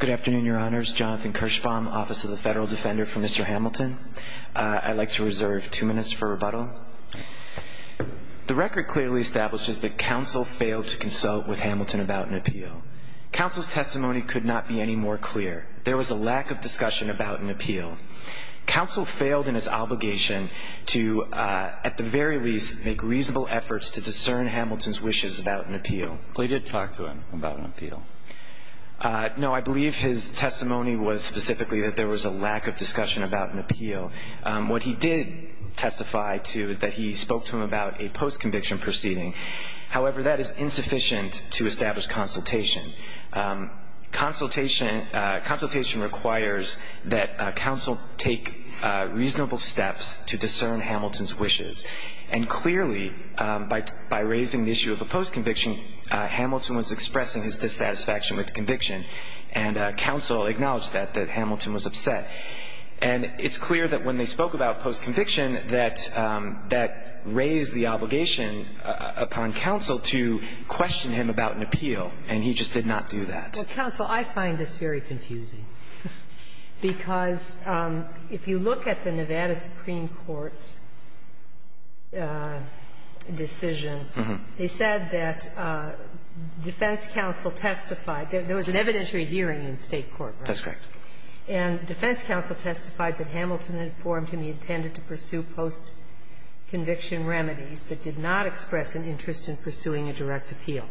Good afternoon, your honors. Jonathan Kirschbaum, Office of the Federal Defender for Mr. Hamilton. I'd like to reserve two minutes for rebuttal. The record clearly establishes that counsel failed to consult with Hamilton about an appeal. Counsel's testimony could not be any more clear. There was a lack of discussion about an appeal. Counsel failed in his obligation to, at the very least, make reasonable efforts to discern Hamilton's wishes about an appeal. We did talk to him about an appeal. No, I believe his testimony was specifically that there was a lack of discussion about an appeal. What he did testify to is that he spoke to him about a post-conviction proceeding. However, that is insufficient to establish consultation. Consultation requires that counsel take reasonable steps to discern Hamilton's wishes. And clearly, by raising the issue of a post-conviction, Hamilton was expressing his dissatisfaction with the conviction, and counsel acknowledged that, that Hamilton was upset. And it's clear that when they spoke about post-conviction, that that raised the obligation upon counsel to question him about an appeal, and he just did not do that. Well, counsel, I find this very confusing, because if you look at the Nevada Supreme Court's decision, they said that defense counsel testified. There was an evidentiary hearing in State court, right? That's correct. And defense counsel testified that Hamilton had informed him he intended to pursue post-conviction remedies, but did not express an interest in pursuing a direct appeal.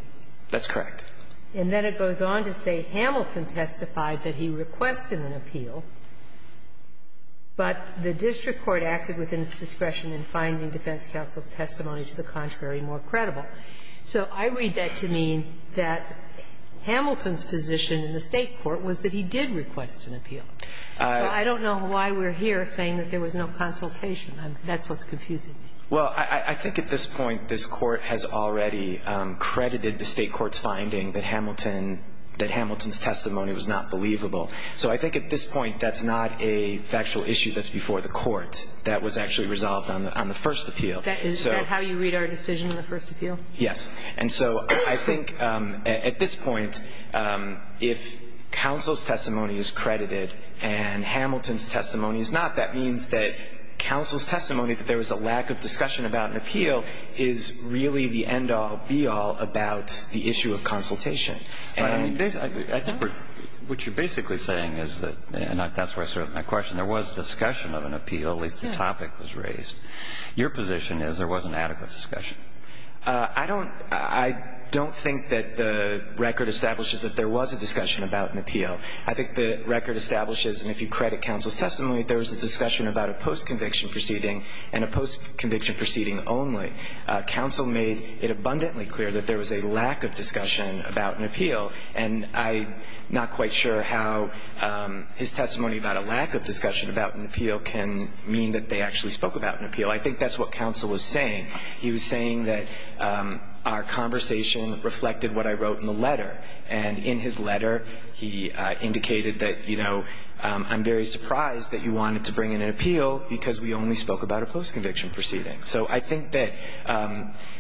That's correct. And then it goes on to say Hamilton testified that he requested an appeal, but the district court acted within its discretion in finding defense counsel's testimony to the contrary more credible. So I read that to mean that Hamilton's position in the State court was that he did request an appeal. So I don't know why we're here saying that there was no consultation. That's what's confusing me. Well, I think at this point this Court has already credited the State court's finding that Hamilton's testimony was not believable. So I think at this point that's not a factual issue that's before the Court that was actually resolved on the first appeal. Is that how you read our decision on the first appeal? Yes. And so I think at this point, if counsel's testimony is credited and Hamilton's testimony that there was a lack of discussion about an appeal is really the end-all, be-all about the issue of consultation. And I think what you're basically saying is that, and that's sort of my question, there was discussion of an appeal, at least the topic was raised. Your position is there wasn't adequate discussion. I don't think that the record establishes that there was a discussion about an appeal. I think the record establishes, and if you credit counsel's testimony, there was a discussion about a post-conviction proceeding and a post-conviction proceeding only. Counsel made it abundantly clear that there was a lack of discussion about an appeal. And I'm not quite sure how his testimony about a lack of discussion about an appeal can mean that they actually spoke about an appeal. I think that's what counsel was saying. He was saying that our conversation reflected what I wrote in the letter. And in his letter, he indicated that, you know, I'm very surprised that you wanted to bring in an appeal because we only spoke about a post-conviction proceeding. So I think that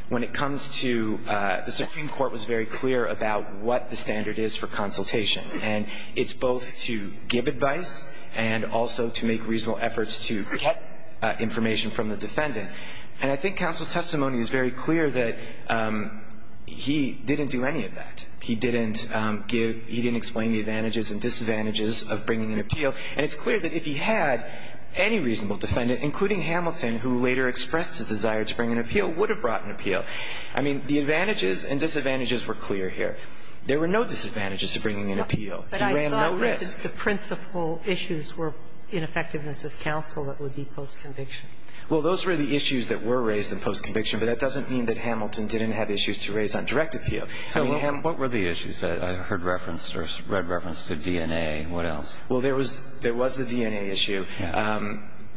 when it comes to the Supreme Court was very clear about what the standard is for consultation. And it's both to give advice and also to make reasonable efforts to get information from the defendant. And I think counsel's testimony is very clear that he didn't do any of that. He didn't give – he didn't explain the advantages and disadvantages of bringing an appeal. And it's clear that if he had, any reasonable defendant, including Hamilton, who later expressed a desire to bring an appeal, would have brought an appeal. I mean, the advantages and disadvantages were clear here. There were no disadvantages to bringing an appeal. He ran no risk. But I thought that the principal issues were ineffectiveness of counsel that would be post-conviction. Well, those were the issues that were raised in post-conviction, but that doesn't mean that Hamilton didn't have issues to raise on direct appeal. I mean, what were the issues that I heard referenced or read referenced to DNA? What else? Well, there was the DNA issue.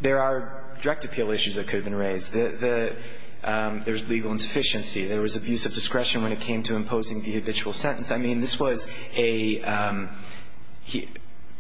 There are direct appeal issues that could have been raised. There's legal insufficiency. There was abuse of discretion when it came to imposing the habitual sentence. I mean, this was a –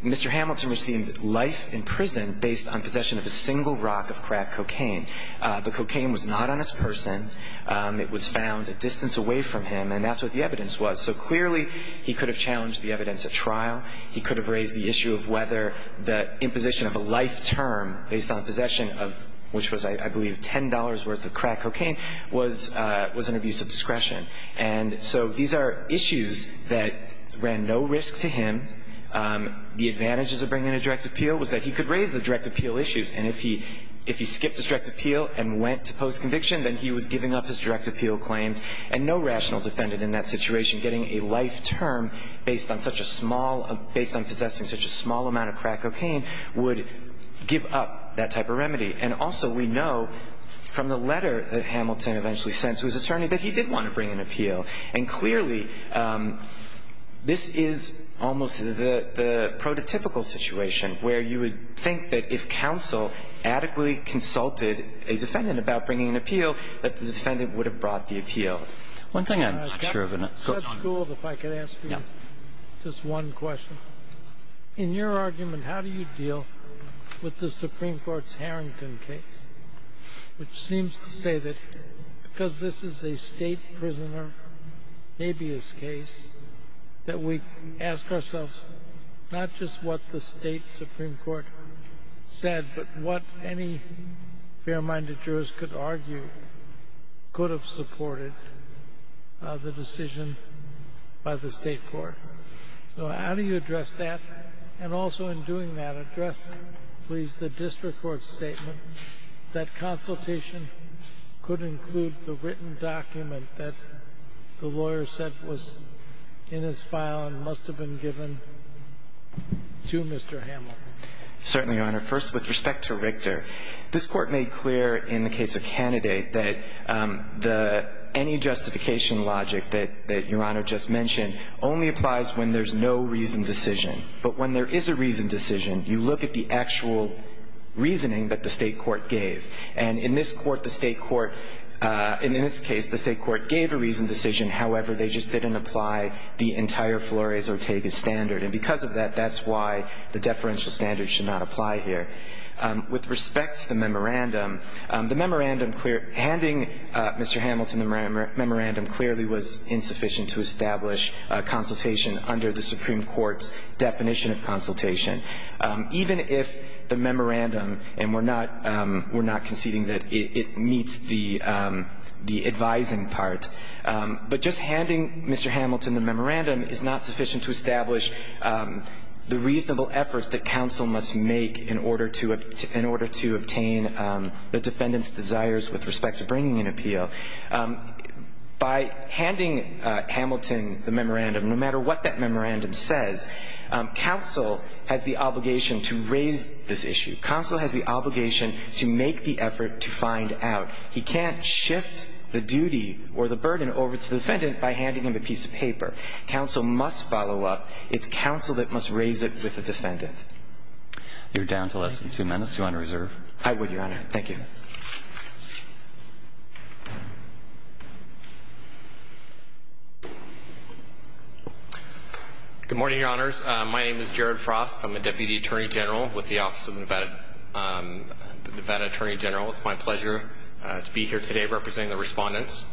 Mr. Hamilton received life in prison based on possession of a single rock of crack cocaine. The cocaine was not on his person. It was found a distance away from him. And that's what the evidence was. So clearly he could have challenged the evidence of trial. He could have raised the issue of whether the imposition of a life term based on possession of – which was, I believe, $10 worth of crack cocaine was an abuse of discretion. And so these are issues that ran no risk to him. The advantages of bringing a direct appeal was that he could raise the direct appeal issues. And if he skipped his direct appeal and went to post-conviction, then he was giving up his direct appeal claims. And no rational defendant in that situation getting a life term based on such a small – based on possessing such a small amount of crack cocaine would give up that type of remedy. And also we know from the letter that Hamilton eventually sent to his attorney that he did want to bring an appeal. And clearly this is almost the prototypical situation where you would think that if counsel adequately consulted a defendant about bringing an appeal, that the case would be brought to trial. One thing I'm not sure of, and I've got time. Just one question. In your argument, how do you deal with the Supreme Court's Harrington case, which seems to say that because this is a State prisoner habeas case, that we ask ourselves not just what the State Supreme Court said, but what any fair-minded jurors could argue could have supported the decision by the State court? So how do you address that? And also in doing that, address, please, the district court's statement that consultation could include the written document that the lawyer said was in his file and must have been given to Mr. Hamilton. Certainly, Your Honor. First, with respect to Richter, this Court made clear in the case of Candidate that any justification logic that Your Honor just mentioned only applies when there's no reasoned decision. But when there is a reasoned decision, you look at the actual reasoning that the State court gave. And in this court, the State court ñ and in this case, the State court gave a reasoned decision. However, they just didn't apply the entire Flores-Ortega standard. And because of that, that's why the deferential standard should not apply here. With respect to the memorandum, the memorandum ñ handing Mr. Hamilton the memorandum clearly was insufficient to establish consultation under the Supreme Court's definition of consultation. Even if the memorandum ñ and we're not conceding that it meets the advising part, but just handing Mr. Hamilton the memorandum is not sufficient to establish the reasonable efforts that counsel must make in order to obtain the defendant's desires with respect to bringing an appeal. By handing Hamilton the memorandum, no matter what that memorandum says, counsel has the obligation to raise this issue. Counsel has the obligation to make the effort to find out. He can't shift the duty or the burden over to the defendant by handing him a piece of paper. Counsel must follow up. It's counsel that must raise it with the defendant. You're down to less than two minutes. You're on reserve. I would, Your Honor. Thank you. Good morning, Your Honors. My name is Jared Frost. I'm a Deputy Attorney General with the Office of the Nevada Attorney General. It's my pleasure to be here today representing the respondents.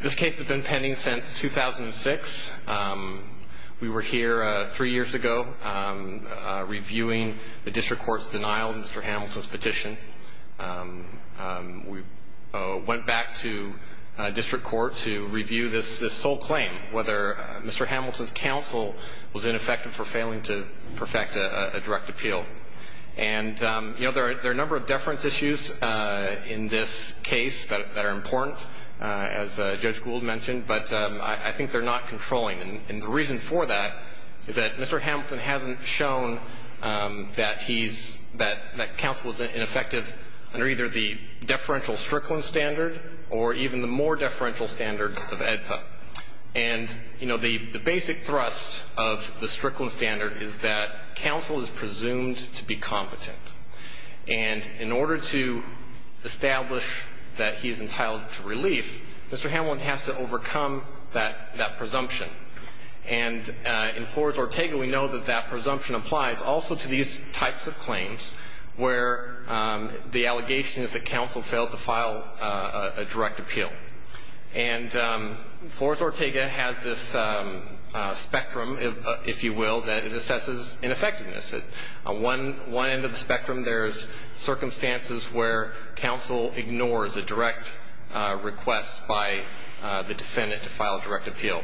This case has been pending since 2006. We were here three years ago reviewing the district court's denial of Mr. Hamilton's petition. We went back to district court to review this sole claim, whether Mr. Hamilton's counsel was ineffective for failing to perfect a direct appeal. And, you know, there are a number of deference issues in this case that are important, as Judge Gould mentioned, but I think they're not controlling. And the reason for that is that Mr. Hamilton hasn't shown that he's, that counsel is ineffective under either the deferential Strickland standard or even the more deferential standards of AEDPA. And, you know, the basic thrust of the Strickland standard is that counsel is presumed to be competent. And in order to establish that he's entitled to relief, Mr. Hamilton has to overcome that presumption. And in Flores-Ortega, we know that that presumption applies also to these types of claims where the allegation is that counsel failed to file a direct appeal. And Flores-Ortega has this spectrum, if you will, that it assesses ineffectiveness. On one end of the spectrum, there's circumstances where counsel ignores a direct request by the defendant to file a direct appeal.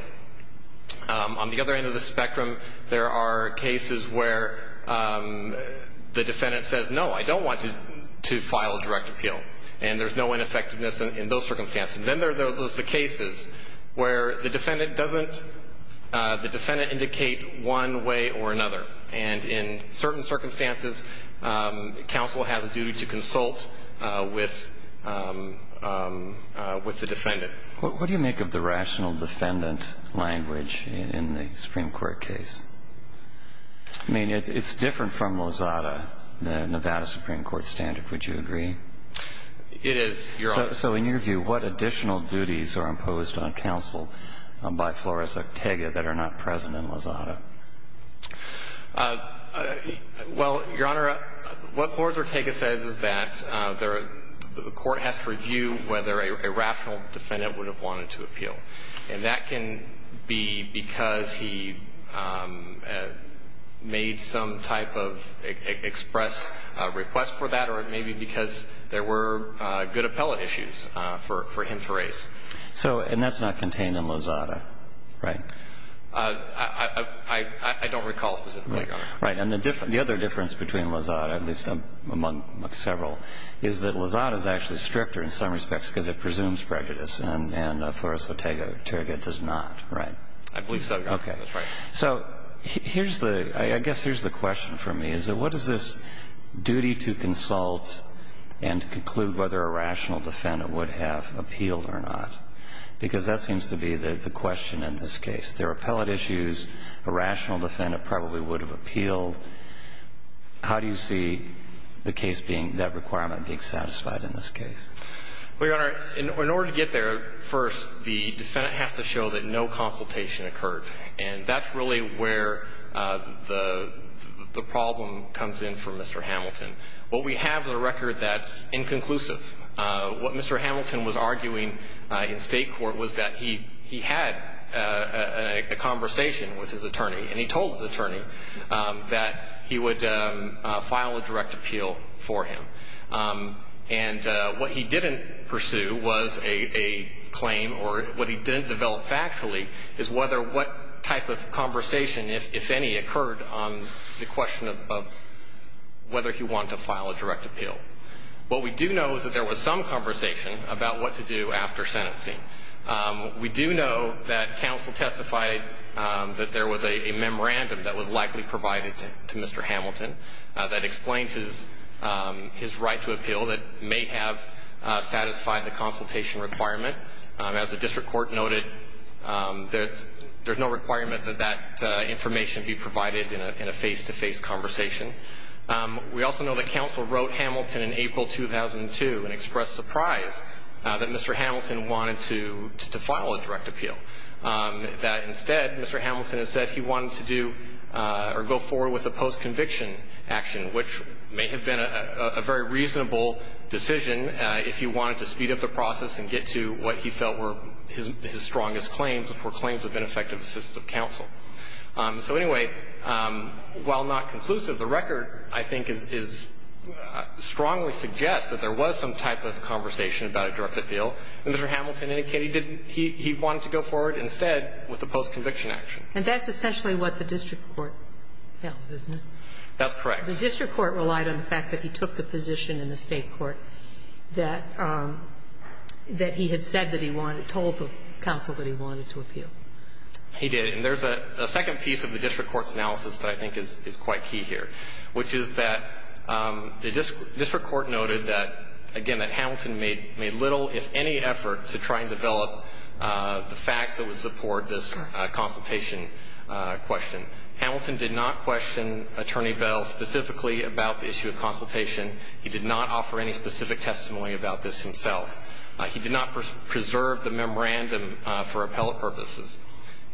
On the other end of the spectrum, there are cases where the defendant says, no, I don't want to file a direct appeal. And there's no ineffectiveness in those circumstances. And then there's the cases where the defendant doesn't, the defendant indicate one way or another. And in certain circumstances, counsel has a duty to consult with the defendant. What do you make of the rational defendant language in the Supreme Court case? I mean, it's different from Mosada, the Nevada Supreme Court standard. Would you agree? It is, Your Honor. So in your view, what additional duties are imposed on counsel by Flores-Ortega that are not present in Mosada? Well, Your Honor, what Flores-Ortega says is that the court has to review whether a rational defendant would have wanted to appeal. And that can be because he made some type of express request for that or it may be because there were good appellate issues for him to raise. So and that's not contained in Mosada, right? I don't recall specifically, Your Honor. Right. And the other difference between Mosada, at least among several, is that Mosada is actually stricter in some respects because it presumes prejudice and Flores-Ortega does not, right? I believe so, Your Honor. That's right. So here's the – I guess here's the question for me is that what is this duty to consult and to conclude whether a rational defendant would have appealed or not? Because that seems to be the question in this case. There are appellate issues. A rational defendant probably would have appealed. How do you see the case being – that requirement being satisfied in this case? Well, Your Honor, in order to get there, first, the defendant has to show that no consultation occurred, and that's really where the problem comes in for Mr. Hamilton. What we have is a record that's inconclusive. What Mr. Hamilton was arguing in state court was that he had a conversation with his attorney, and he told his attorney that he would file a direct appeal for him. And what he didn't pursue was a claim or what he didn't develop factually is whether what type of conversation, if any, occurred on the question of whether he wanted to file a direct appeal. What we do know is that there was some conversation about what to do after sentencing. We do know that counsel testified that there was a memorandum that was likely provided to Mr. Hamilton that explained his right to appeal that may have satisfied the consultation requirement. As the district court noted, there's no requirement that that information be provided in a face-to-face conversation. We also know that counsel wrote Hamilton in April 2002 and expressed surprise that Mr. Hamilton wanted to file a direct appeal, that instead Mr. Hamilton has said he wanted to do or go forward with a post-conviction action, which may have been a very reasonable decision if he wanted to speed up the process and get to what he felt were his strongest claims, which were claims of ineffective assistance of counsel. So, anyway, while not conclusive, the record, I think, strongly suggests that there was some type of conversation about a direct appeal. Mr. Hamilton indicated he wanted to go forward instead with a post-conviction action. And that's essentially what the district court held, isn't it? That's correct. The district court relied on the fact that he took the position in the State court that he had said that he wanted, told the counsel that he wanted to appeal. He did. And there's a second piece of the district court's analysis that I think is quite key here, which is that the district court noted that, again, that Hamilton made little, if any, effort to try and develop the facts that would support this consultation question. Hamilton did not question Attorney Bell specifically about the issue of consultation. He did not offer any specific testimony about this himself. He did not preserve the memorandum for appellate purposes.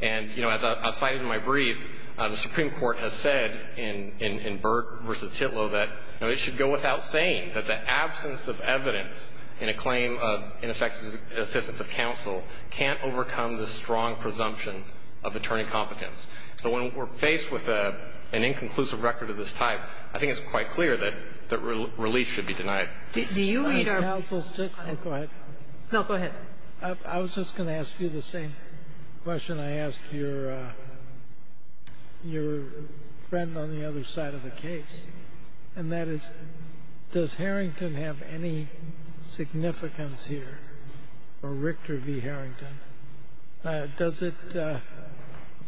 And, you know, as I cited in my brief, the Supreme Court has said in Burke v. Titlow that, you know, it should go without saying that the absence of evidence in a claim of ineffective assistance of counsel can't overcome the strong presumption of attorney competence. So when we're faced with an inconclusive record of this type, I think it's quite clear that release should be denied. Do you read our ---- Counsel, go ahead. No, go ahead. I was just going to ask you the same question I asked your friend on the other side of the case, and that is, does Harrington have any significance here or Richter v. Harrington? Does it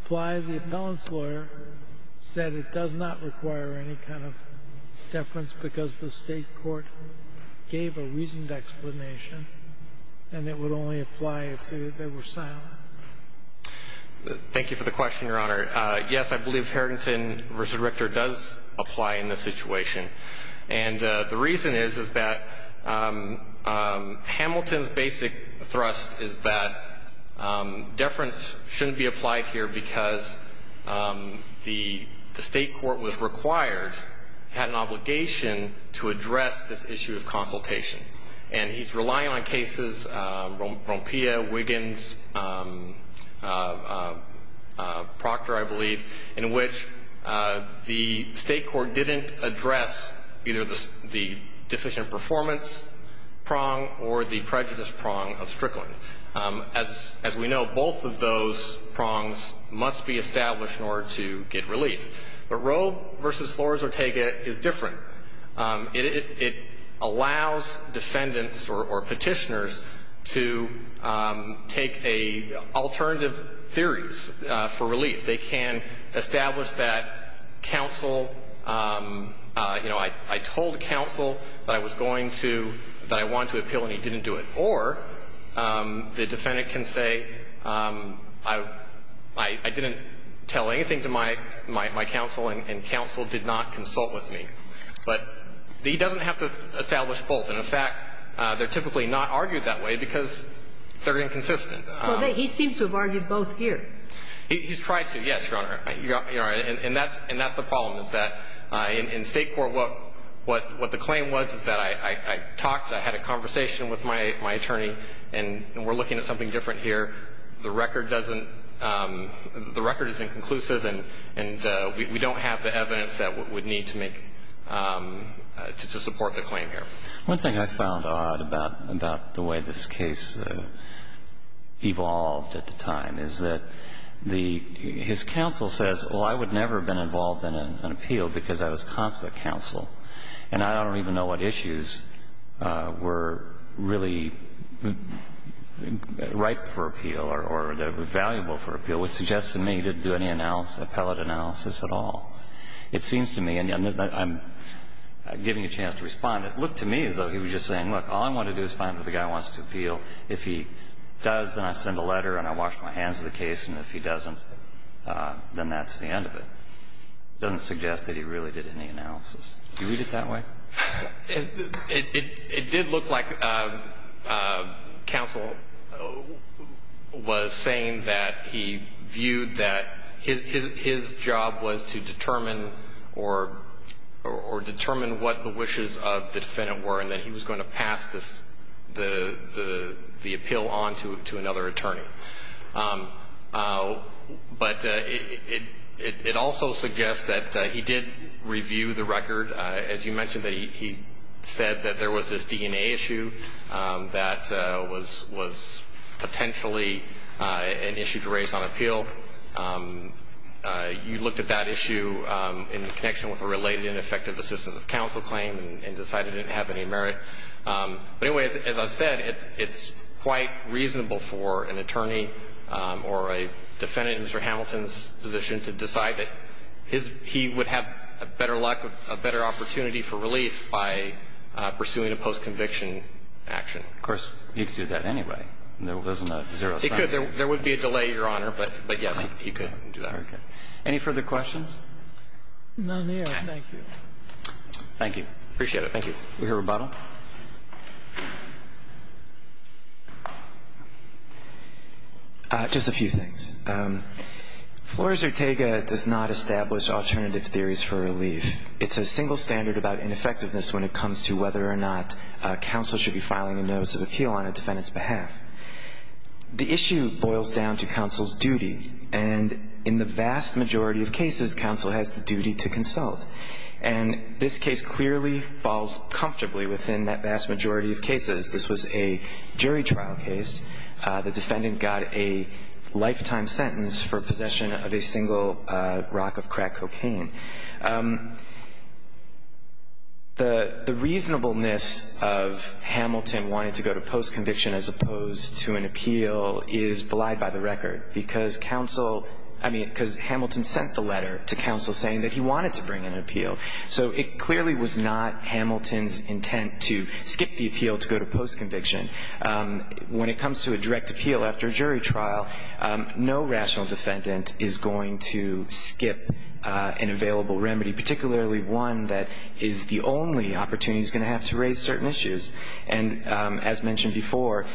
apply? The appellant's lawyer said it does not require any kind of deference because the state court gave a reasoned explanation, and it would only apply if they were silenced. Thank you for the question, Your Honor. Yes, I believe Harrington v. Richter does apply in this situation. And the reason is, is that Hamilton's basic thrust is that deference shouldn't be applied here because the state court was required, had an obligation, to address this issue of consultation. And he's relying on cases, Rompea, Wiggins, Proctor, I believe, in which the state court didn't address either the deficient performance prong or the prejudice prong of Strickland. As we know, both of those prongs must be established in order to get relief. But Roe v. Flores-Ortega is different. It allows defendants or Petitioners to take alternative theories for relief. They can establish that counsel, you know, I told counsel that I was going to, that I wanted to appeal and he didn't do it. Or the defendant can say I didn't tell anything to my counsel and counsel did not consult with me. But he doesn't have to establish both. And, in fact, they're typically not argued that way because they're inconsistent. Well, he seems to have argued both here. He's tried to, yes, Your Honor. And that's the problem, is that in state court, what the claim was is that I talked, I had a conversation with my attorney, and we're looking at something different here, the record doesn't, the record is inconclusive, and we don't have the evidence that would need to make, to support the claim here. One thing I found odd about the way this case evolved at the time is that the, his counsel says, well, I would never have been involved in an appeal because I was consular counsel, and I don't even know what issues were really ripe for appeal or that were valuable for appeal, which suggests to me he didn't do any appellate analysis at all. It seems to me, and I'm giving you a chance to respond, it looked to me as though he was just saying, look, all I want to do is find what the guy wants to appeal. If he does, then I send a letter and I wash my hands of the case, and if he doesn't, then that's the end of it. It doesn't suggest that he really did any analysis. Do you read it that way? It did look like counsel was saying that he viewed that his job was to determine or determine what the wishes of the defendant were and that he was going to pass the appeal on to another attorney. But it also suggests that he did review the record. As you mentioned, he said that there was this DNA issue that was potentially an issue to raise on appeal. You looked at that issue in connection with a related ineffective assistance of counsel claim and decided it didn't have any merit. But anyway, as I've said, it's quite reasonable for an attorney or a defendant in Mr. Ortega's case to have a position that said, well, I'm going to do this, and I'm not going But I think that there's a legitimate opportunity for relief by pursuing a post-conviction action. Of course, you could do that anyway. There's no zero sum. You could. There would be a delay, Your Honor, but yes, you could do that. Okay. Any further questions? None there. Thank you. Thank you. Appreciate it. Thank you. We hear a rebuttal. Just a few things. Flores Ortega does not establish alternative theories for relief. It's a single standard about ineffectiveness when it comes to whether or not counsel should be filing a notice of appeal on a defendant's behalf. The issue boils down to counsel's duty. And in the vast majority of cases, counsel has the duty to consult. And this case clearly falls comfortably within that vast majority of cases. This was a jury trial case. The defendant got a lifetime sentence for possession of a single rock of crack cocaine. The reasonableness of Hamilton wanting to go to post-conviction as opposed to an appeal is belied by the record, because Hamilton sent the letter to counsel saying that he wanted to bring an appeal. So it clearly was not Hamilton's intent to skip the appeal to go to post-conviction. When it comes to a direct appeal after a jury trial, no rational defendant is going to skip an available remedy, particularly one that is the only opportunity he's going to have to raise certain issues. And as mentioned before,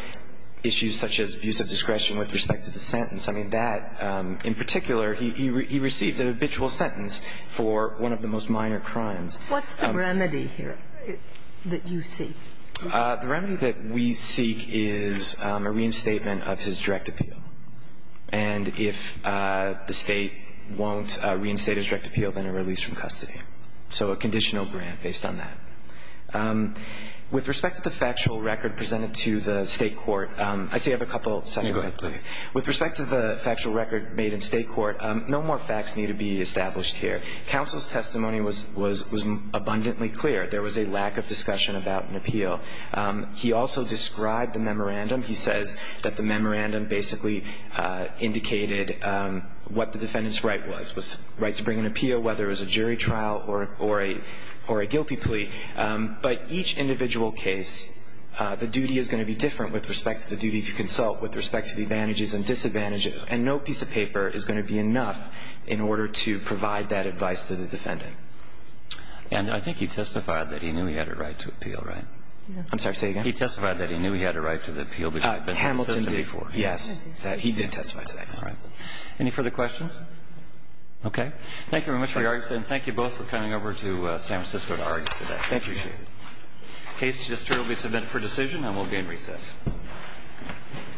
issues such as abuse of discretion with respect to the sentence. I mean, that in particular, he received an habitual sentence for one of the most minor crimes. What's the remedy here that you seek? The remedy that we seek is a reinstatement of his direct appeal. And if the State won't reinstate his direct appeal, then a release from custody, so a conditional grant based on that. With respect to the factual record presented to the State court, I still have a couple of seconds left. With respect to the factual record made in State court, no more facts need to be established here. Counsel's testimony was abundantly clear. There was a lack of discussion about an appeal. He also described the memorandum. He says that the memorandum basically indicated what the defendant's right was, was the right to bring an appeal, whether it was a jury trial or a guilty plea. But each individual case, the duty is going to be different with respect to the advantages and disadvantages. And no piece of paper is going to be enough in order to provide that advice to the defendant. And I think he testified that he knew he had a right to appeal, right? I'm sorry. Say again? He testified that he knew he had a right to the appeal. Hamilton did. Yes. He did testify to that. All right. Any further questions? Okay. to argue today. I appreciate it. Thank you. The case will be submitted for decision and we'll begin recess.